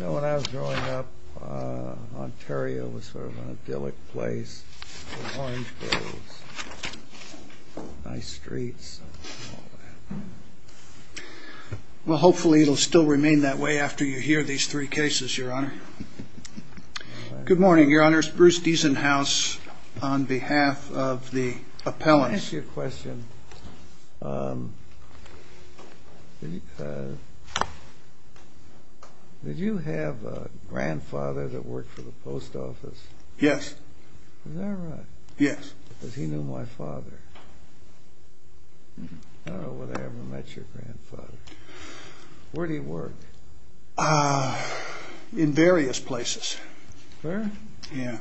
When I was growing up, Ontario was sort of an idyllic place. It was a nice place. Well, hopefully it will still remain that way after you hear these three cases, Your Honor. Good morning, Your Honor. It's Bruce Diesenhaus on behalf of the appellant. Can I ask you a question? Yes. Did you have a grandfather that worked for the post office? Yes. Is that right? Yes. Because he knew my father. I don't know whether I ever met your grandfather. Where did he work? In various places. Where? Yeah.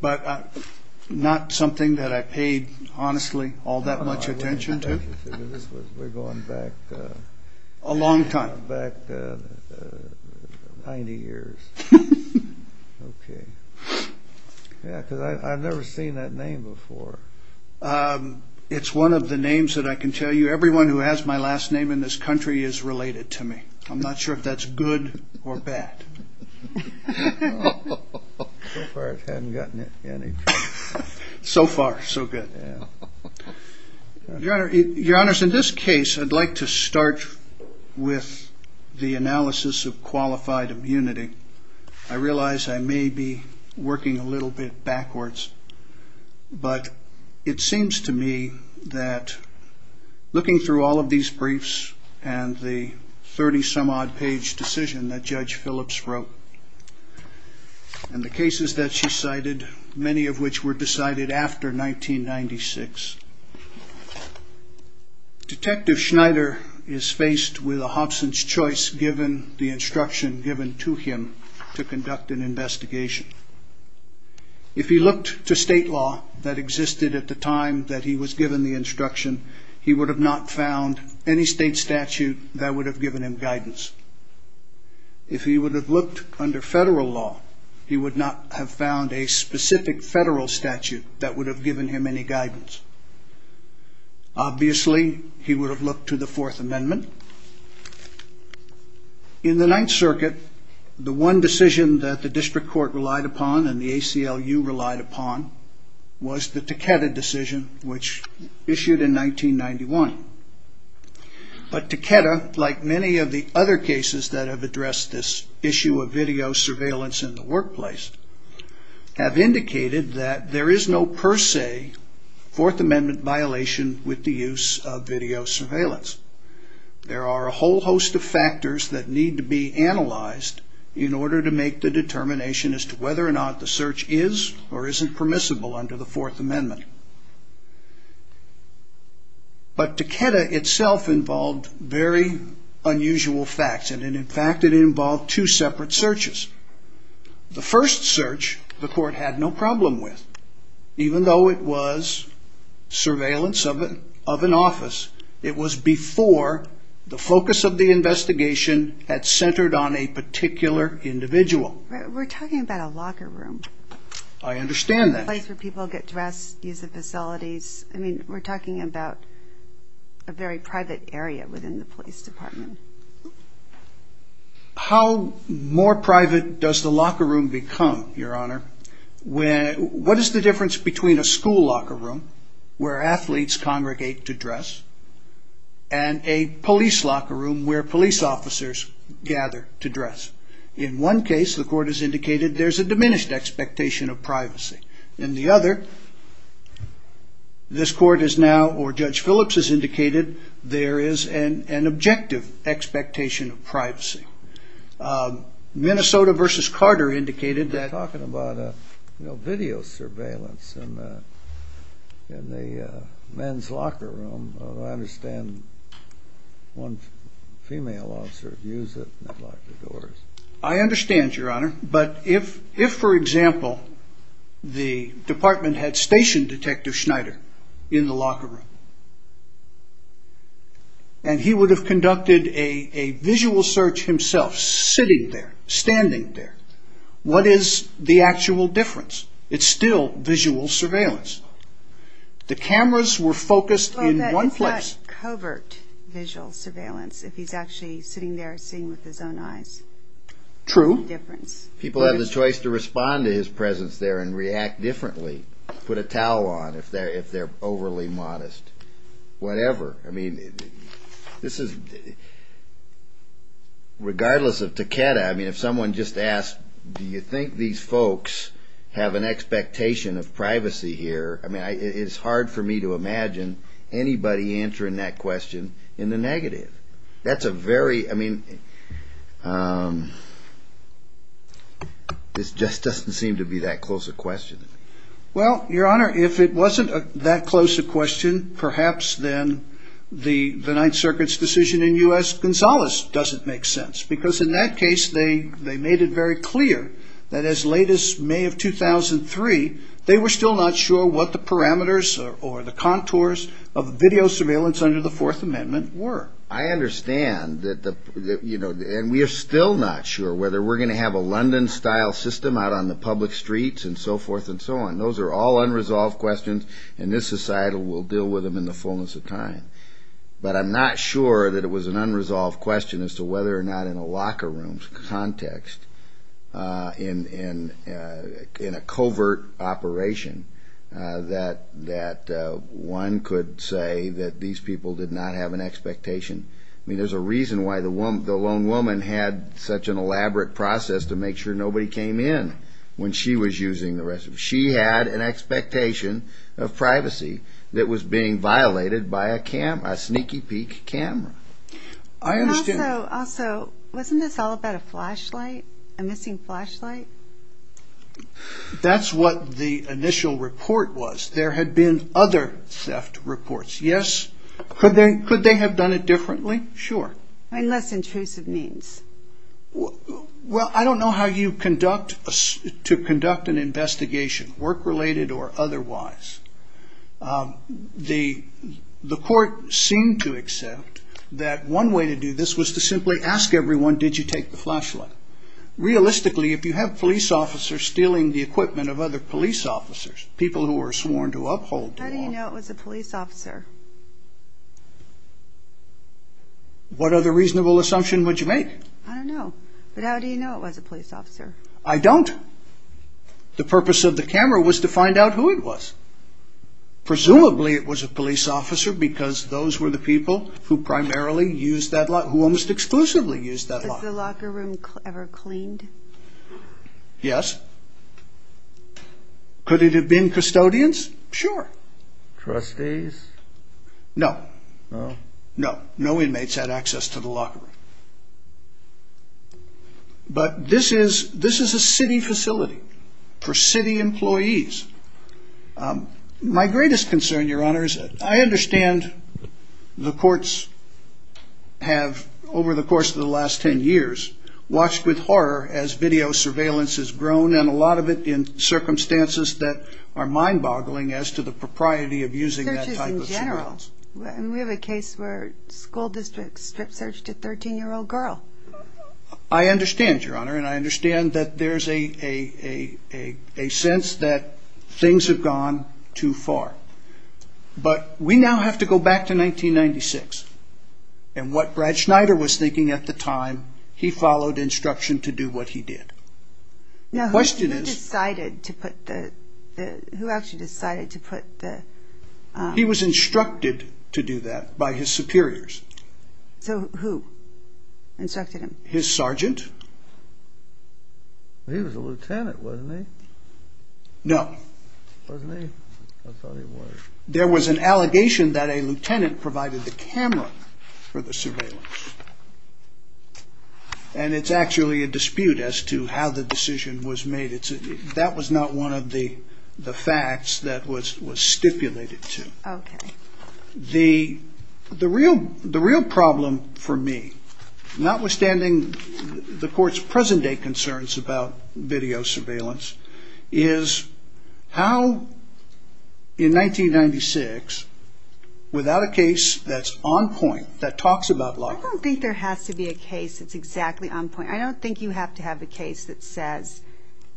But not something that I paid, honestly, all that much attention to. We're going back... A long time. Back 90 years. Okay. Yeah, because I've never seen that name before. It's one of the names that I can tell you. Everyone who has my last name in this country is related to me. I'm not sure if that's good or bad. So far it hasn't gotten any... So far, so good. Your Honor, in this case, I'd like to start with the analysis of qualified immunity. I realize I may be working a little bit backwards, but it seems to me that looking through all of these briefs and the 30-some-odd page decision that Judge Phillips wrote and the cases that she cited, many of which were decided after 1996, Detective Schneider is faced with a Hobson's choice given the instruction given to him to conduct an investigation. If he looked to state law that existed at the time that he was given the instruction, he would have not found any state statute that would have given him guidance. If he would have looked under federal law, he would not have found a specific federal statute that would have given him any guidance. Obviously, he would have looked to the Fourth Amendment. In the Ninth Circuit, the one decision that the district court relied upon and the ACLU relied upon was the Takeda decision, which issued in 1991. But Takeda, like many of the other cases that have addressed this issue of video surveillance in the workplace, have indicated that there is no per se Fourth Amendment violation with the use of video surveillance. There are a whole host of factors that need to be analyzed in order to make the determination as to whether or not the search is or isn't permissible under the Fourth Amendment. But Takeda itself involved very unusual facts, and in fact it involved two separate searches. The first search the court had no problem with, even though it was surveillance of an office, it was before the focus of the investigation had centered on a particular individual. We're talking about a locker room. I understand that. A place where people get dressed, use the facilities. I mean, we're talking about a very private area within the police department. How more private does the locker room become, Your Honor? What is the difference between a school locker room, where athletes congregate to dress, and a police locker room where police officers gather to dress? In one case, the court has indicated there's a diminished expectation of privacy. In the other, this court has now, or Judge Phillips has indicated, there is an objective expectation of privacy. Minnesota v. Carter indicated that. We're talking about video surveillance in the men's locker room. I understand one female officer used it and locked the doors. I understand, Your Honor. But if, for example, the department had stationed Detective Schneider in the locker room, and he would have conducted a visual search himself, sitting there, standing there, what is the actual difference? It's still visual surveillance. The cameras were focused in one place. It's not covert visual surveillance if he's actually sitting there seeing with his own eyes. True. People have the choice to respond to his presence there and react differently, put a towel on if they're overly modest, whatever. I mean, this is, regardless of Takeda, I mean, if someone just asked, do you think these folks have an expectation of privacy here? I mean, it's hard for me to imagine anybody answering that question in the negative. That's a very, I mean, this just doesn't seem to be that close a question. Well, Your Honor, if it wasn't that close a question, perhaps then the Ninth Circuit's decision in U.S., Gonzalez doesn't make sense, because in that case they made it very clear that as late as May of 2003, they were still not sure what the parameters or the contours of video surveillance under the Fourth Amendment were. I understand that the, you know, and we are still not sure whether we're going to have a London-style system out on the public streets and so forth and so on. Those are all unresolved questions, and this societal will deal with them in the fullness of time. But I'm not sure that it was an unresolved question as to whether or not in a locker room context, in a covert operation, that one could say that these people did not have an expectation. I mean, there's a reason why the lone woman had such an elaborate process to make sure nobody came in when she was using the restroom. She had an expectation of privacy that was being violated by a sneaky-peek camera. Also, wasn't this all about a flashlight, a missing flashlight? That's what the initial report was. There had been other theft reports, yes. Could they have done it differently? Sure. I mean, less intrusive means. Well, I don't know how you conduct an investigation, work-related or otherwise. The court seemed to accept that one way to do this was to simply ask everyone, did you take the flashlight? Realistically, if you have police officers stealing the equipment of other police officers, people who were sworn to uphold the law. How do you know it was a police officer? What other reasonable assumption would you make? I don't know. But how do you know it was a police officer? I don't. The purpose of the camera was to find out who it was. Presumably, it was a police officer because those were the people who primarily used that lock, who almost exclusively used that lock. Was the locker room ever cleaned? Yes. Could it have been custodians? Sure. Trustees? No. No. No inmates had access to the locker room. But this is a city facility for city employees. My greatest concern, Your Honor, is I understand the courts have, over the course of the last 10 years, watched with horror as video surveillance has grown, and a lot of it in circumstances that are mind-boggling as to the propriety of using that type of equipment. In general? We have a case where a school district strip-searched a 13-year-old girl. I understand, Your Honor, and I understand that there's a sense that things have gone too far. But we now have to go back to 1996, and what Brad Schneider was thinking at the time, he followed instruction to do what he did. Now, who decided to put the, who actually decided to put the... He was instructed to do that by his superiors. So who instructed him? His sergeant. He was a lieutenant, wasn't he? No. Wasn't he? I thought he was. There was an allegation that a lieutenant provided the camera for the surveillance, and it's actually a dispute as to how the decision was made. That was not one of the facts that was stipulated to. Okay. The real problem for me, notwithstanding the court's present-day concerns about video surveillance, is how, in 1996, without a case that's on point, that talks about lockers. I don't think there has to be a case that's exactly on point. I don't think you have to have a case that says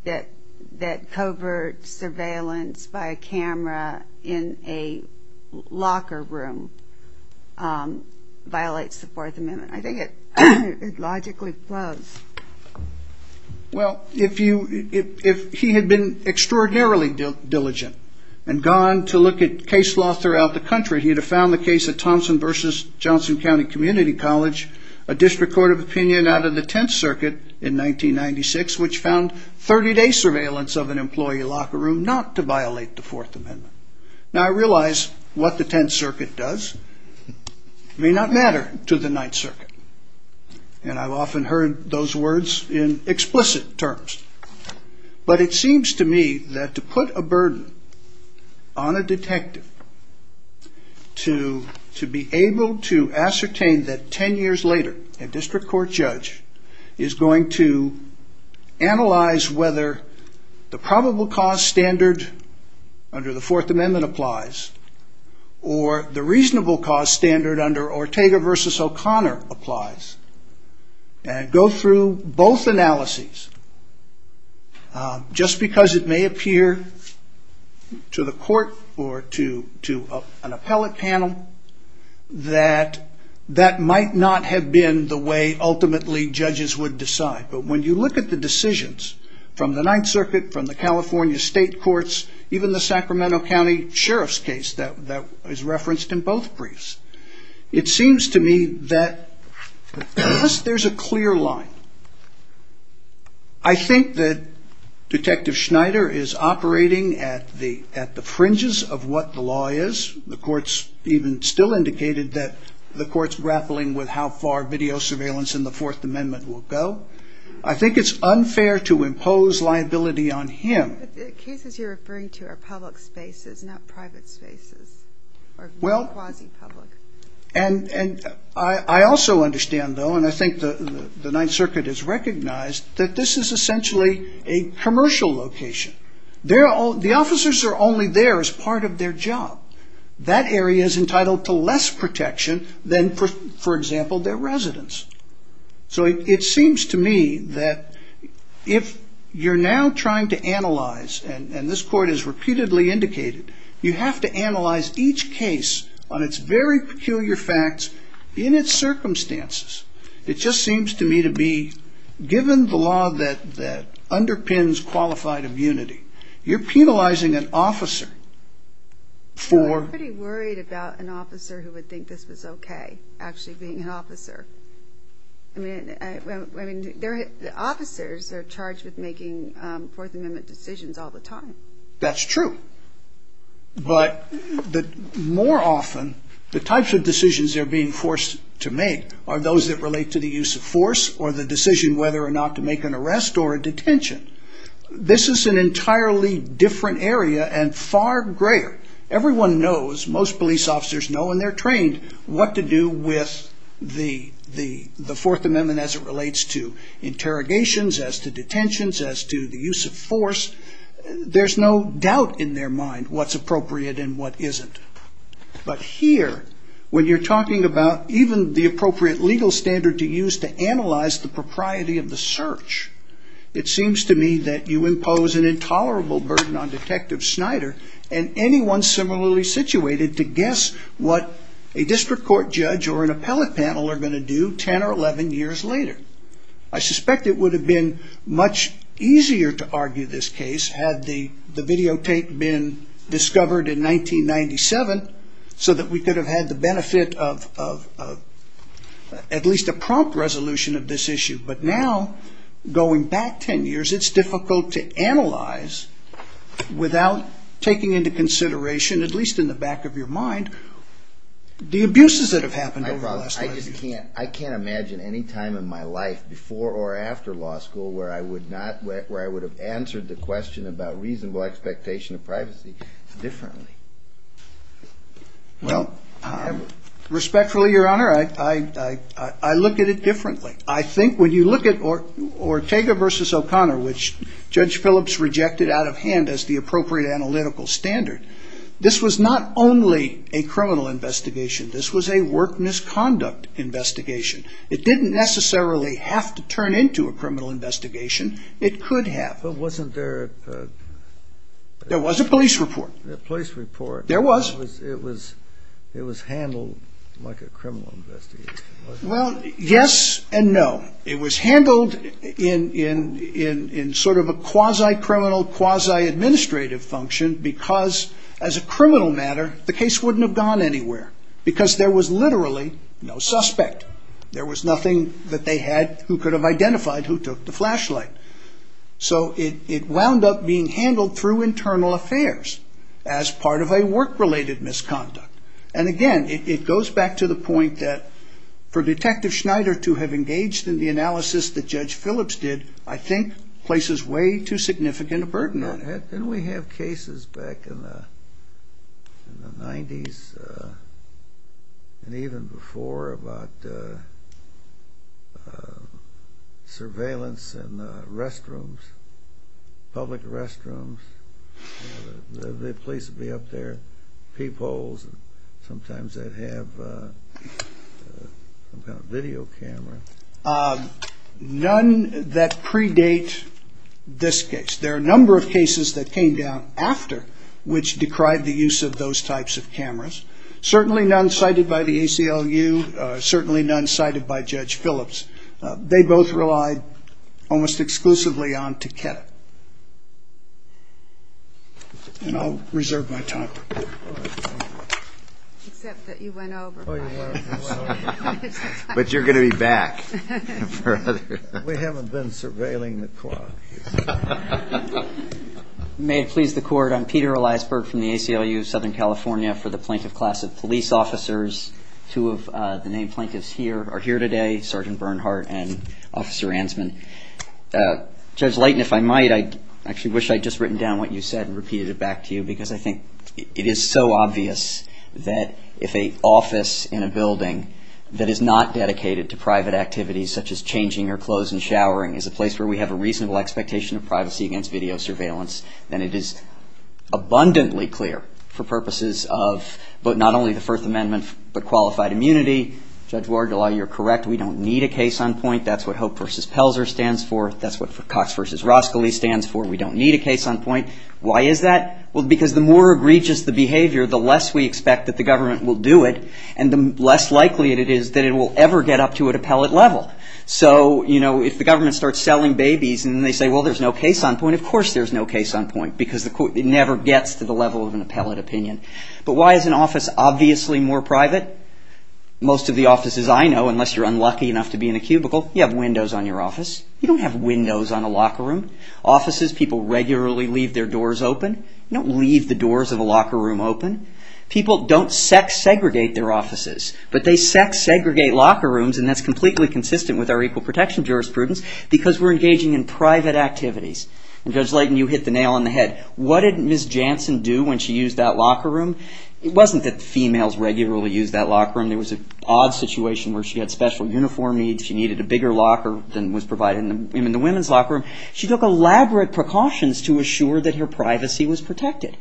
that covert surveillance by a camera in a locker room violates the Fourth Amendment. I think it logically flows. Well, if he had been extraordinarily diligent and gone to look at case law throughout the country, he'd have found the case of Thompson v. Johnson County Community College, a district court of opinion out of the Tenth Circuit in 1996, which found 30-day surveillance of an employee locker room not to violate the Fourth Amendment. Now, I realize what the Tenth Circuit does may not matter to the Ninth Circuit, and I've often heard those words in explicit terms, but it seems to me that to put a burden on a detective to be able to ascertain that 10 years later, a district court judge is going to analyze whether the probable cause standard under the Fourth Amendment applies or the reasonable cause standard under Ortega v. O'Connor applies, and go through both analyses just because it may appear to the court or to an appellate panel that that might not have been the way ultimately judges would decide. But when you look at the decisions from the Ninth Circuit, from the California state courts, even the Sacramento County Sheriff's case that is referenced in both briefs, it seems to me that there's a clear line. I think that Detective Schneider is operating at the fringes of what the law is. The court's even still indicated that the court's grappling with how far video surveillance in the Fourth Amendment will go. I think it's unfair to impose liability on him. But the cases you're referring to are public spaces, not private spaces, or quasi-public. I also understand, though, and I think the Ninth Circuit has recognized, that this is essentially a commercial location. The officers are only there as part of their job. That area is entitled to less protection than, for example, their residence. So it seems to me that if you're now trying to analyze, and this court has repeatedly indicated, you have to analyze each case on its very peculiar facts in its circumstances. It just seems to me to be, given the law that underpins qualified immunity, you're penalizing an officer for... I mean, the officers are charged with making Fourth Amendment decisions all the time. That's true. But more often, the types of decisions they're being forced to make are those that relate to the use of force or the decision whether or not to make an arrest or a detention. This is an entirely different area and far greater. Everyone knows, most police officers know, and they're trained, what to do with the Fourth Amendment as it relates to interrogations, as to detentions, as to the use of force. There's no doubt in their mind what's appropriate and what isn't. But here, when you're talking about even the appropriate legal standard to use to analyze the propriety of the search, it seems to me that you impose an intolerable burden on Detective Snyder and anyone similarly situated to guess what a district court judge or an appellate panel are going to do 10 or 11 years later. I suspect it would have been much easier to argue this case had the videotape been discovered in 1997 so that we could have had the benefit of at least a prompt resolution of this issue. But now, going back 10 years, it's difficult to analyze without taking into consideration, at least in the back of your mind, the abuses that have happened over the last 10 years. I can't imagine any time in my life before or after law school where I would have answered the question about reasonable expectation of privacy differently. Respectfully, Your Honor, I look at it differently. I think when you look at Ortega v. O'Connor, which Judge Phillips rejected out of hand as the appropriate analytical standard, this was not only a criminal investigation. This was a work misconduct investigation. It didn't necessarily have to turn into a criminal investigation. It could have. But wasn't there a... There was a police report. A police report. There was. It was handled like a criminal investigation. Well, yes and no. It was handled in sort of a quasi-criminal, quasi-administrative function because, as a criminal matter, the case wouldn't have gone anywhere because there was literally no suspect. There was nothing that they had who could have identified who took the flashlight. So it wound up being handled through internal affairs as part of a work-related misconduct. And, again, it goes back to the point that for Detective Schneider to have engaged in the analysis that Judge Phillips did, I think places way too significant a burden on him. Didn't we have cases back in the 90s and even before about surveillance in restrooms, public restrooms? The police would be up there, peepholes, and sometimes they'd have some kind of video camera. None that predate this case. There are a number of cases that came down after which decried the use of those types of cameras. Certainly none cited by the ACLU. Certainly none cited by Judge Phillips. They both relied almost exclusively on Takeda. And I'll reserve my time. Except that you went over. But you're going to be back. We haven't been surveilling the clock. May it please the Court, I'm Peter Eliasberg from the ACLU of Southern California for the Plaintiff Class of Police Officers. Two of the named plaintiffs here are here today, Sergeant Bernhardt and Officer Ansman. Judge Leighton, if I might, I actually wish I'd just written down what you said and repeated it back to you because I think it is so obvious that if an office in a building that is not dedicated to private activities such as changing your clothes and showering is a place where we have a reasonable expectation of privacy against video surveillance, then it is abundantly clear for purposes of not only the First Amendment but qualified immunity. Judge Ward, you're correct. We don't need a case on point. That's what Hope v. Pelzer stands for. That's what Cox v. Roskildee stands for. We don't need a case on point. Why is that? Well, because the more egregious the behavior, the less we expect that the government will do it and the less likely it is that it will ever get up to an appellate level. So, you know, if the government starts selling babies and they say, well, there's no case on point, of course there's no case on point because it never gets to the level of an appellate opinion. But why is an office obviously more private? Most of the offices I know, unless you're unlucky enough to be in a cubicle, you have windows on your office. You don't have windows on a locker room. Offices, people regularly leave their doors open. You don't leave the doors of a locker room open. People don't sex segregate their offices, but they sex segregate locker rooms and that's completely consistent with our equal protection jurisprudence because we're engaging in private activities. And Judge Layton, you hit the nail on the head. What did Ms. Jansen do when she used that locker room? It wasn't that females regularly used that locker room. There was an odd situation where she had special uniform needs. She needed a bigger locker than was provided in the women's locker room. She took elaborate precautions to assure that her privacy was protected.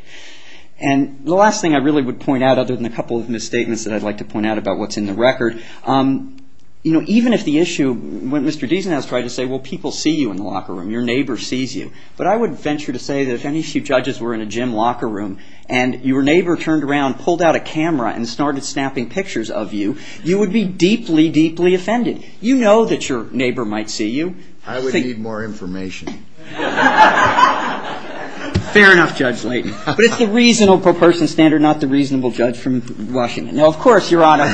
And the last thing I really would point out, other than a couple of misstatements that I'd like to point out about what's in the record, you know, even if the issue, when Mr. Deason has tried to say, well, people see you in the locker room, your neighbor sees you, but I would venture to say that if any of you judges were in a gym locker room and your neighbor turned around, pulled out a camera, and started snapping pictures of you, you would be deeply, deeply offended. You know that your neighbor might see you. I would need more information. Fair enough, Judge Layton. But it's the reasonable person standard, not the reasonable judge from Washington. No, of course, Your Honor.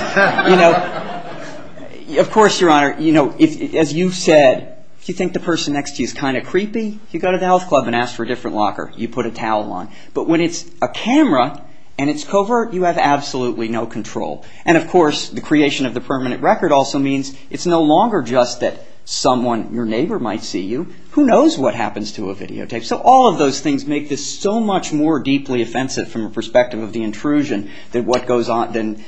You know, of course, Your Honor. You know, as you said, if you think the person next to you is kind of creepy, you go to the health club and ask for a different locker. You put a towel on. But when it's a camera, and it's covert, you have absolutely no control. And, of course, the creation of the permanent record also means it's no longer just that someone, your neighbor, might see you. Who knows what happens to a videotape? So all of those things make this so much more deeply offensive from a perspective of the intrusion than what goes on, than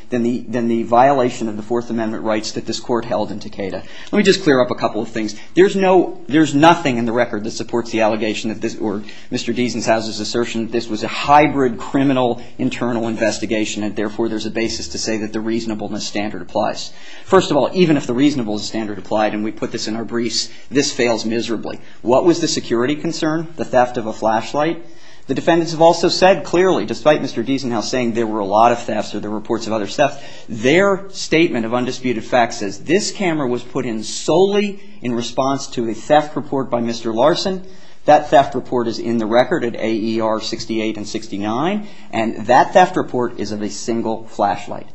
the violation of the Fourth Amendment rights that this Court held in Takeda. Let me just clear up a couple of things. There's no, there's nothing in the record that supports the allegation that this, or Mr. Deasonhouse's assertion that this was a hybrid criminal internal investigation, and therefore there's a basis to say that the reasonableness standard applies. First of all, even if the reasonableness standard applied, and we put this in our briefs, this fails miserably. What was the security concern? The theft of a flashlight? The defendants have also said clearly, despite Mr. Deasonhouse saying there were a lot of thefts or the reports of other thefts, their statement of undisputed fact says this camera was put in solely in response to a theft report by Mr. Larson. That theft report is in the record at AER 68 and 69, and that theft report is of a single flashlight.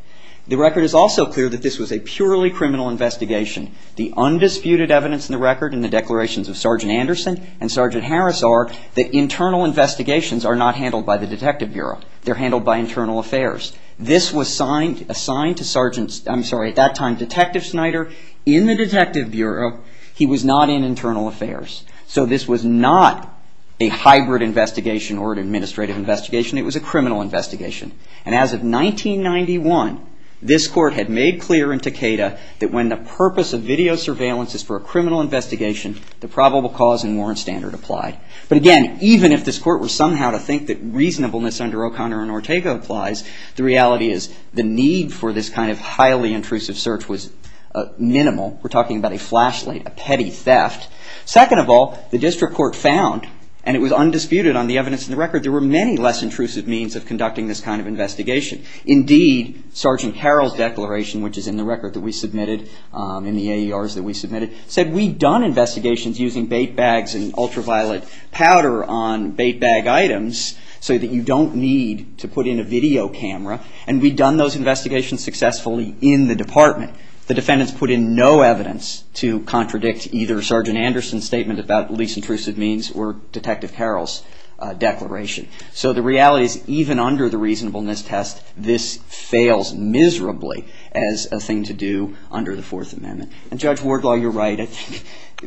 The record is also clear that this was a purely criminal investigation. The undisputed evidence in the record and the declarations of Sergeant Anderson and Sergeant Harris are that internal investigations are not handled by the Detective Bureau. They're handled by Internal Affairs. This was assigned to Sergeant, I'm sorry, at that time Detective Snyder in the Detective Bureau. He was not in Internal Affairs. So this was not a hybrid investigation or an administrative investigation. It was a criminal investigation. And as of 1991, this Court had made clear in Takeda that when the purpose of video surveillance is for a criminal investigation, the probable cause and warrant standard applied. But again, even if this Court were somehow to think that reasonableness under O'Connor and Ortega applies, the reality is the need for this kind of highly intrusive search was minimal. We're talking about a flashlight, a petty theft. Second of all, the District Court found and it was undisputed on the evidence in the record there were many less intrusive means of conducting this kind of investigation. Indeed, Sergeant Carroll's declaration, which is in the record that we submitted, in the AERs that we submitted, said we'd done investigations using bait bags and ultraviolet powder on bait bag items so that you don't need to put in a video camera and we'd done those investigations successfully in the department. The defendants put in no evidence to contradict either Sergeant Anderson's statement about least intrusive means or Detective Carroll's declaration. So the reality is even under the reasonableness test this fails miserably as a thing to do under the Fourth Amendment. And Judge Wardlaw, you're right.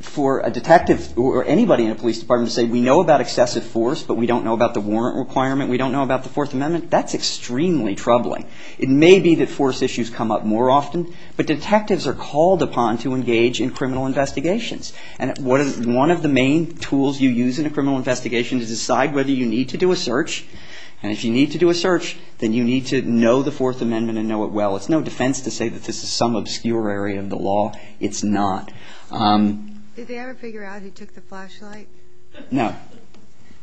For a detective or anybody in a police department to say we know about excessive force but we don't know about the warrant requirement, we don't know about the Fourth Amendment, that's extremely troubling. It may be that force issues come up more often but detectives are called upon to engage in criminal investigations. And one of the main tools you use in a criminal investigation is to decide whether you need to do a search and if you need to do a search then you need to know the Fourth Amendment and know it well. It's no defense to say that this is some obscure area of the law. It's not. Did they ever figure out who took the flashlight? No.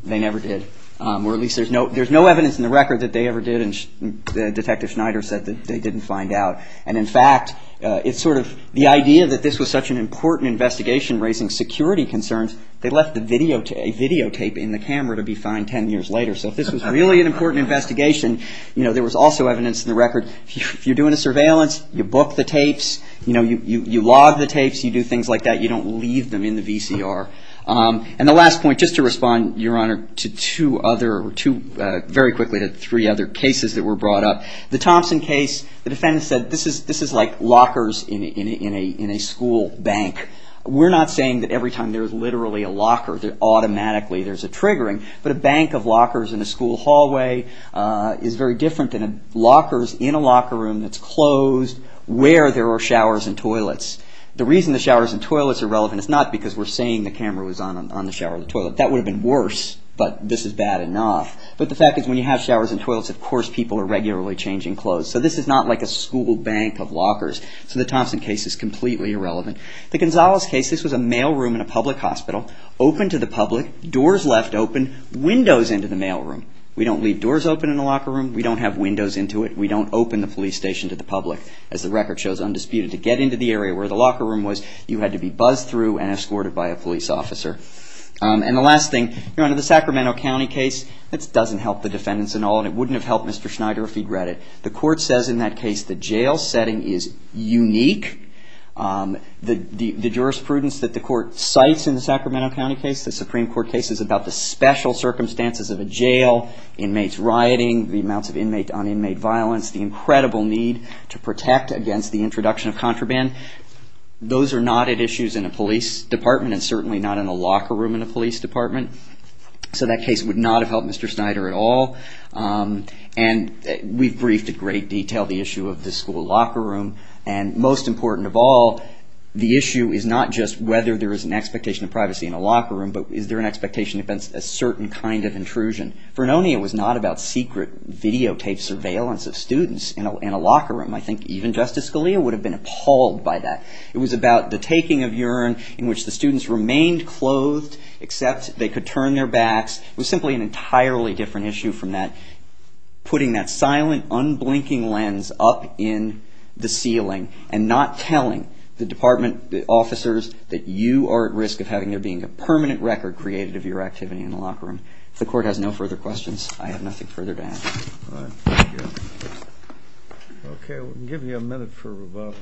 They never did. Or at least there's no evidence in the record that they ever did and Detective Schneider said that they didn't find out. And in fact, it's sort of the idea that this was such an important investigation raising security concerns, they left a videotape in the camera to be found 10 years later. So if this was really an important investigation, there was also evidence in the record if you're doing a surveillance, you book the tapes, you log the tapes, you do things like that, you don't leave them in the VCR. And the last point, just to respond, Your Honor, to two other, very quickly to three other cases that were brought up. The Thompson case, the defendant said this is like lockers in a school bank. We're not saying that every time there's literally a locker, automatically there's a triggering, but a bank of lockers in a school hallway is very different than lockers in a locker room that's closed where there are showers and toilets. The reason the showers and toilets are relevant is not because we're saying the camera was on the shower or the toilet. That would have been worse, but this is bad enough. But the fact is when you have showers and toilets, of course people are regularly changing clothes. So this is not like a school bank of lockers. So the Thompson case is completely irrelevant. The Gonzalez case, this was a mail room in a public hospital, open to the public, doors left open, windows into the mail room. We don't leave doors open in a locker room. We don't have windows into it. We don't open the police station to the public. As the record shows, undisputed to get into the area where the locker room was, you had to be buzzed through and escorted by a police officer. And the last thing, under the Sacramento County case, it doesn't help the defendants at all and it wouldn't have helped Mr. Schneider if he'd read it. The court says in that case the jail setting is unique. The jurisprudence that the court cites in the Sacramento County case, the Supreme Court case, is about the special circumstances of a jail, inmates rioting, the amounts of inmate on inmate violence, the incredible need to protect against the introduction of contraband. Those are not at issues in a police department and certainly not in a locker room in a police department. So that case would not have helped Mr. Schneider at all. And we've briefed in great detail the issue of the school locker room and most important of all, the issue is not just whether there is an expectation of privacy in a locker room but is there an expectation against a certain kind of intrusion. Vernonia was not about secret videotaped surveillance of students in a locker room. I think even Justice Scalia would have been appalled by that. It was about the taking of urine in which the students remained clothed except they could turn their backs. It was simply an entirely different issue from that. Putting that silent unblinking lens up in the ceiling and not telling the department officers that you are at risk of having there being a permanent record created of your activity in the locker room. If the court has no further questions, I have nothing further to add. Okay, we'll give you a minute for rebuttal.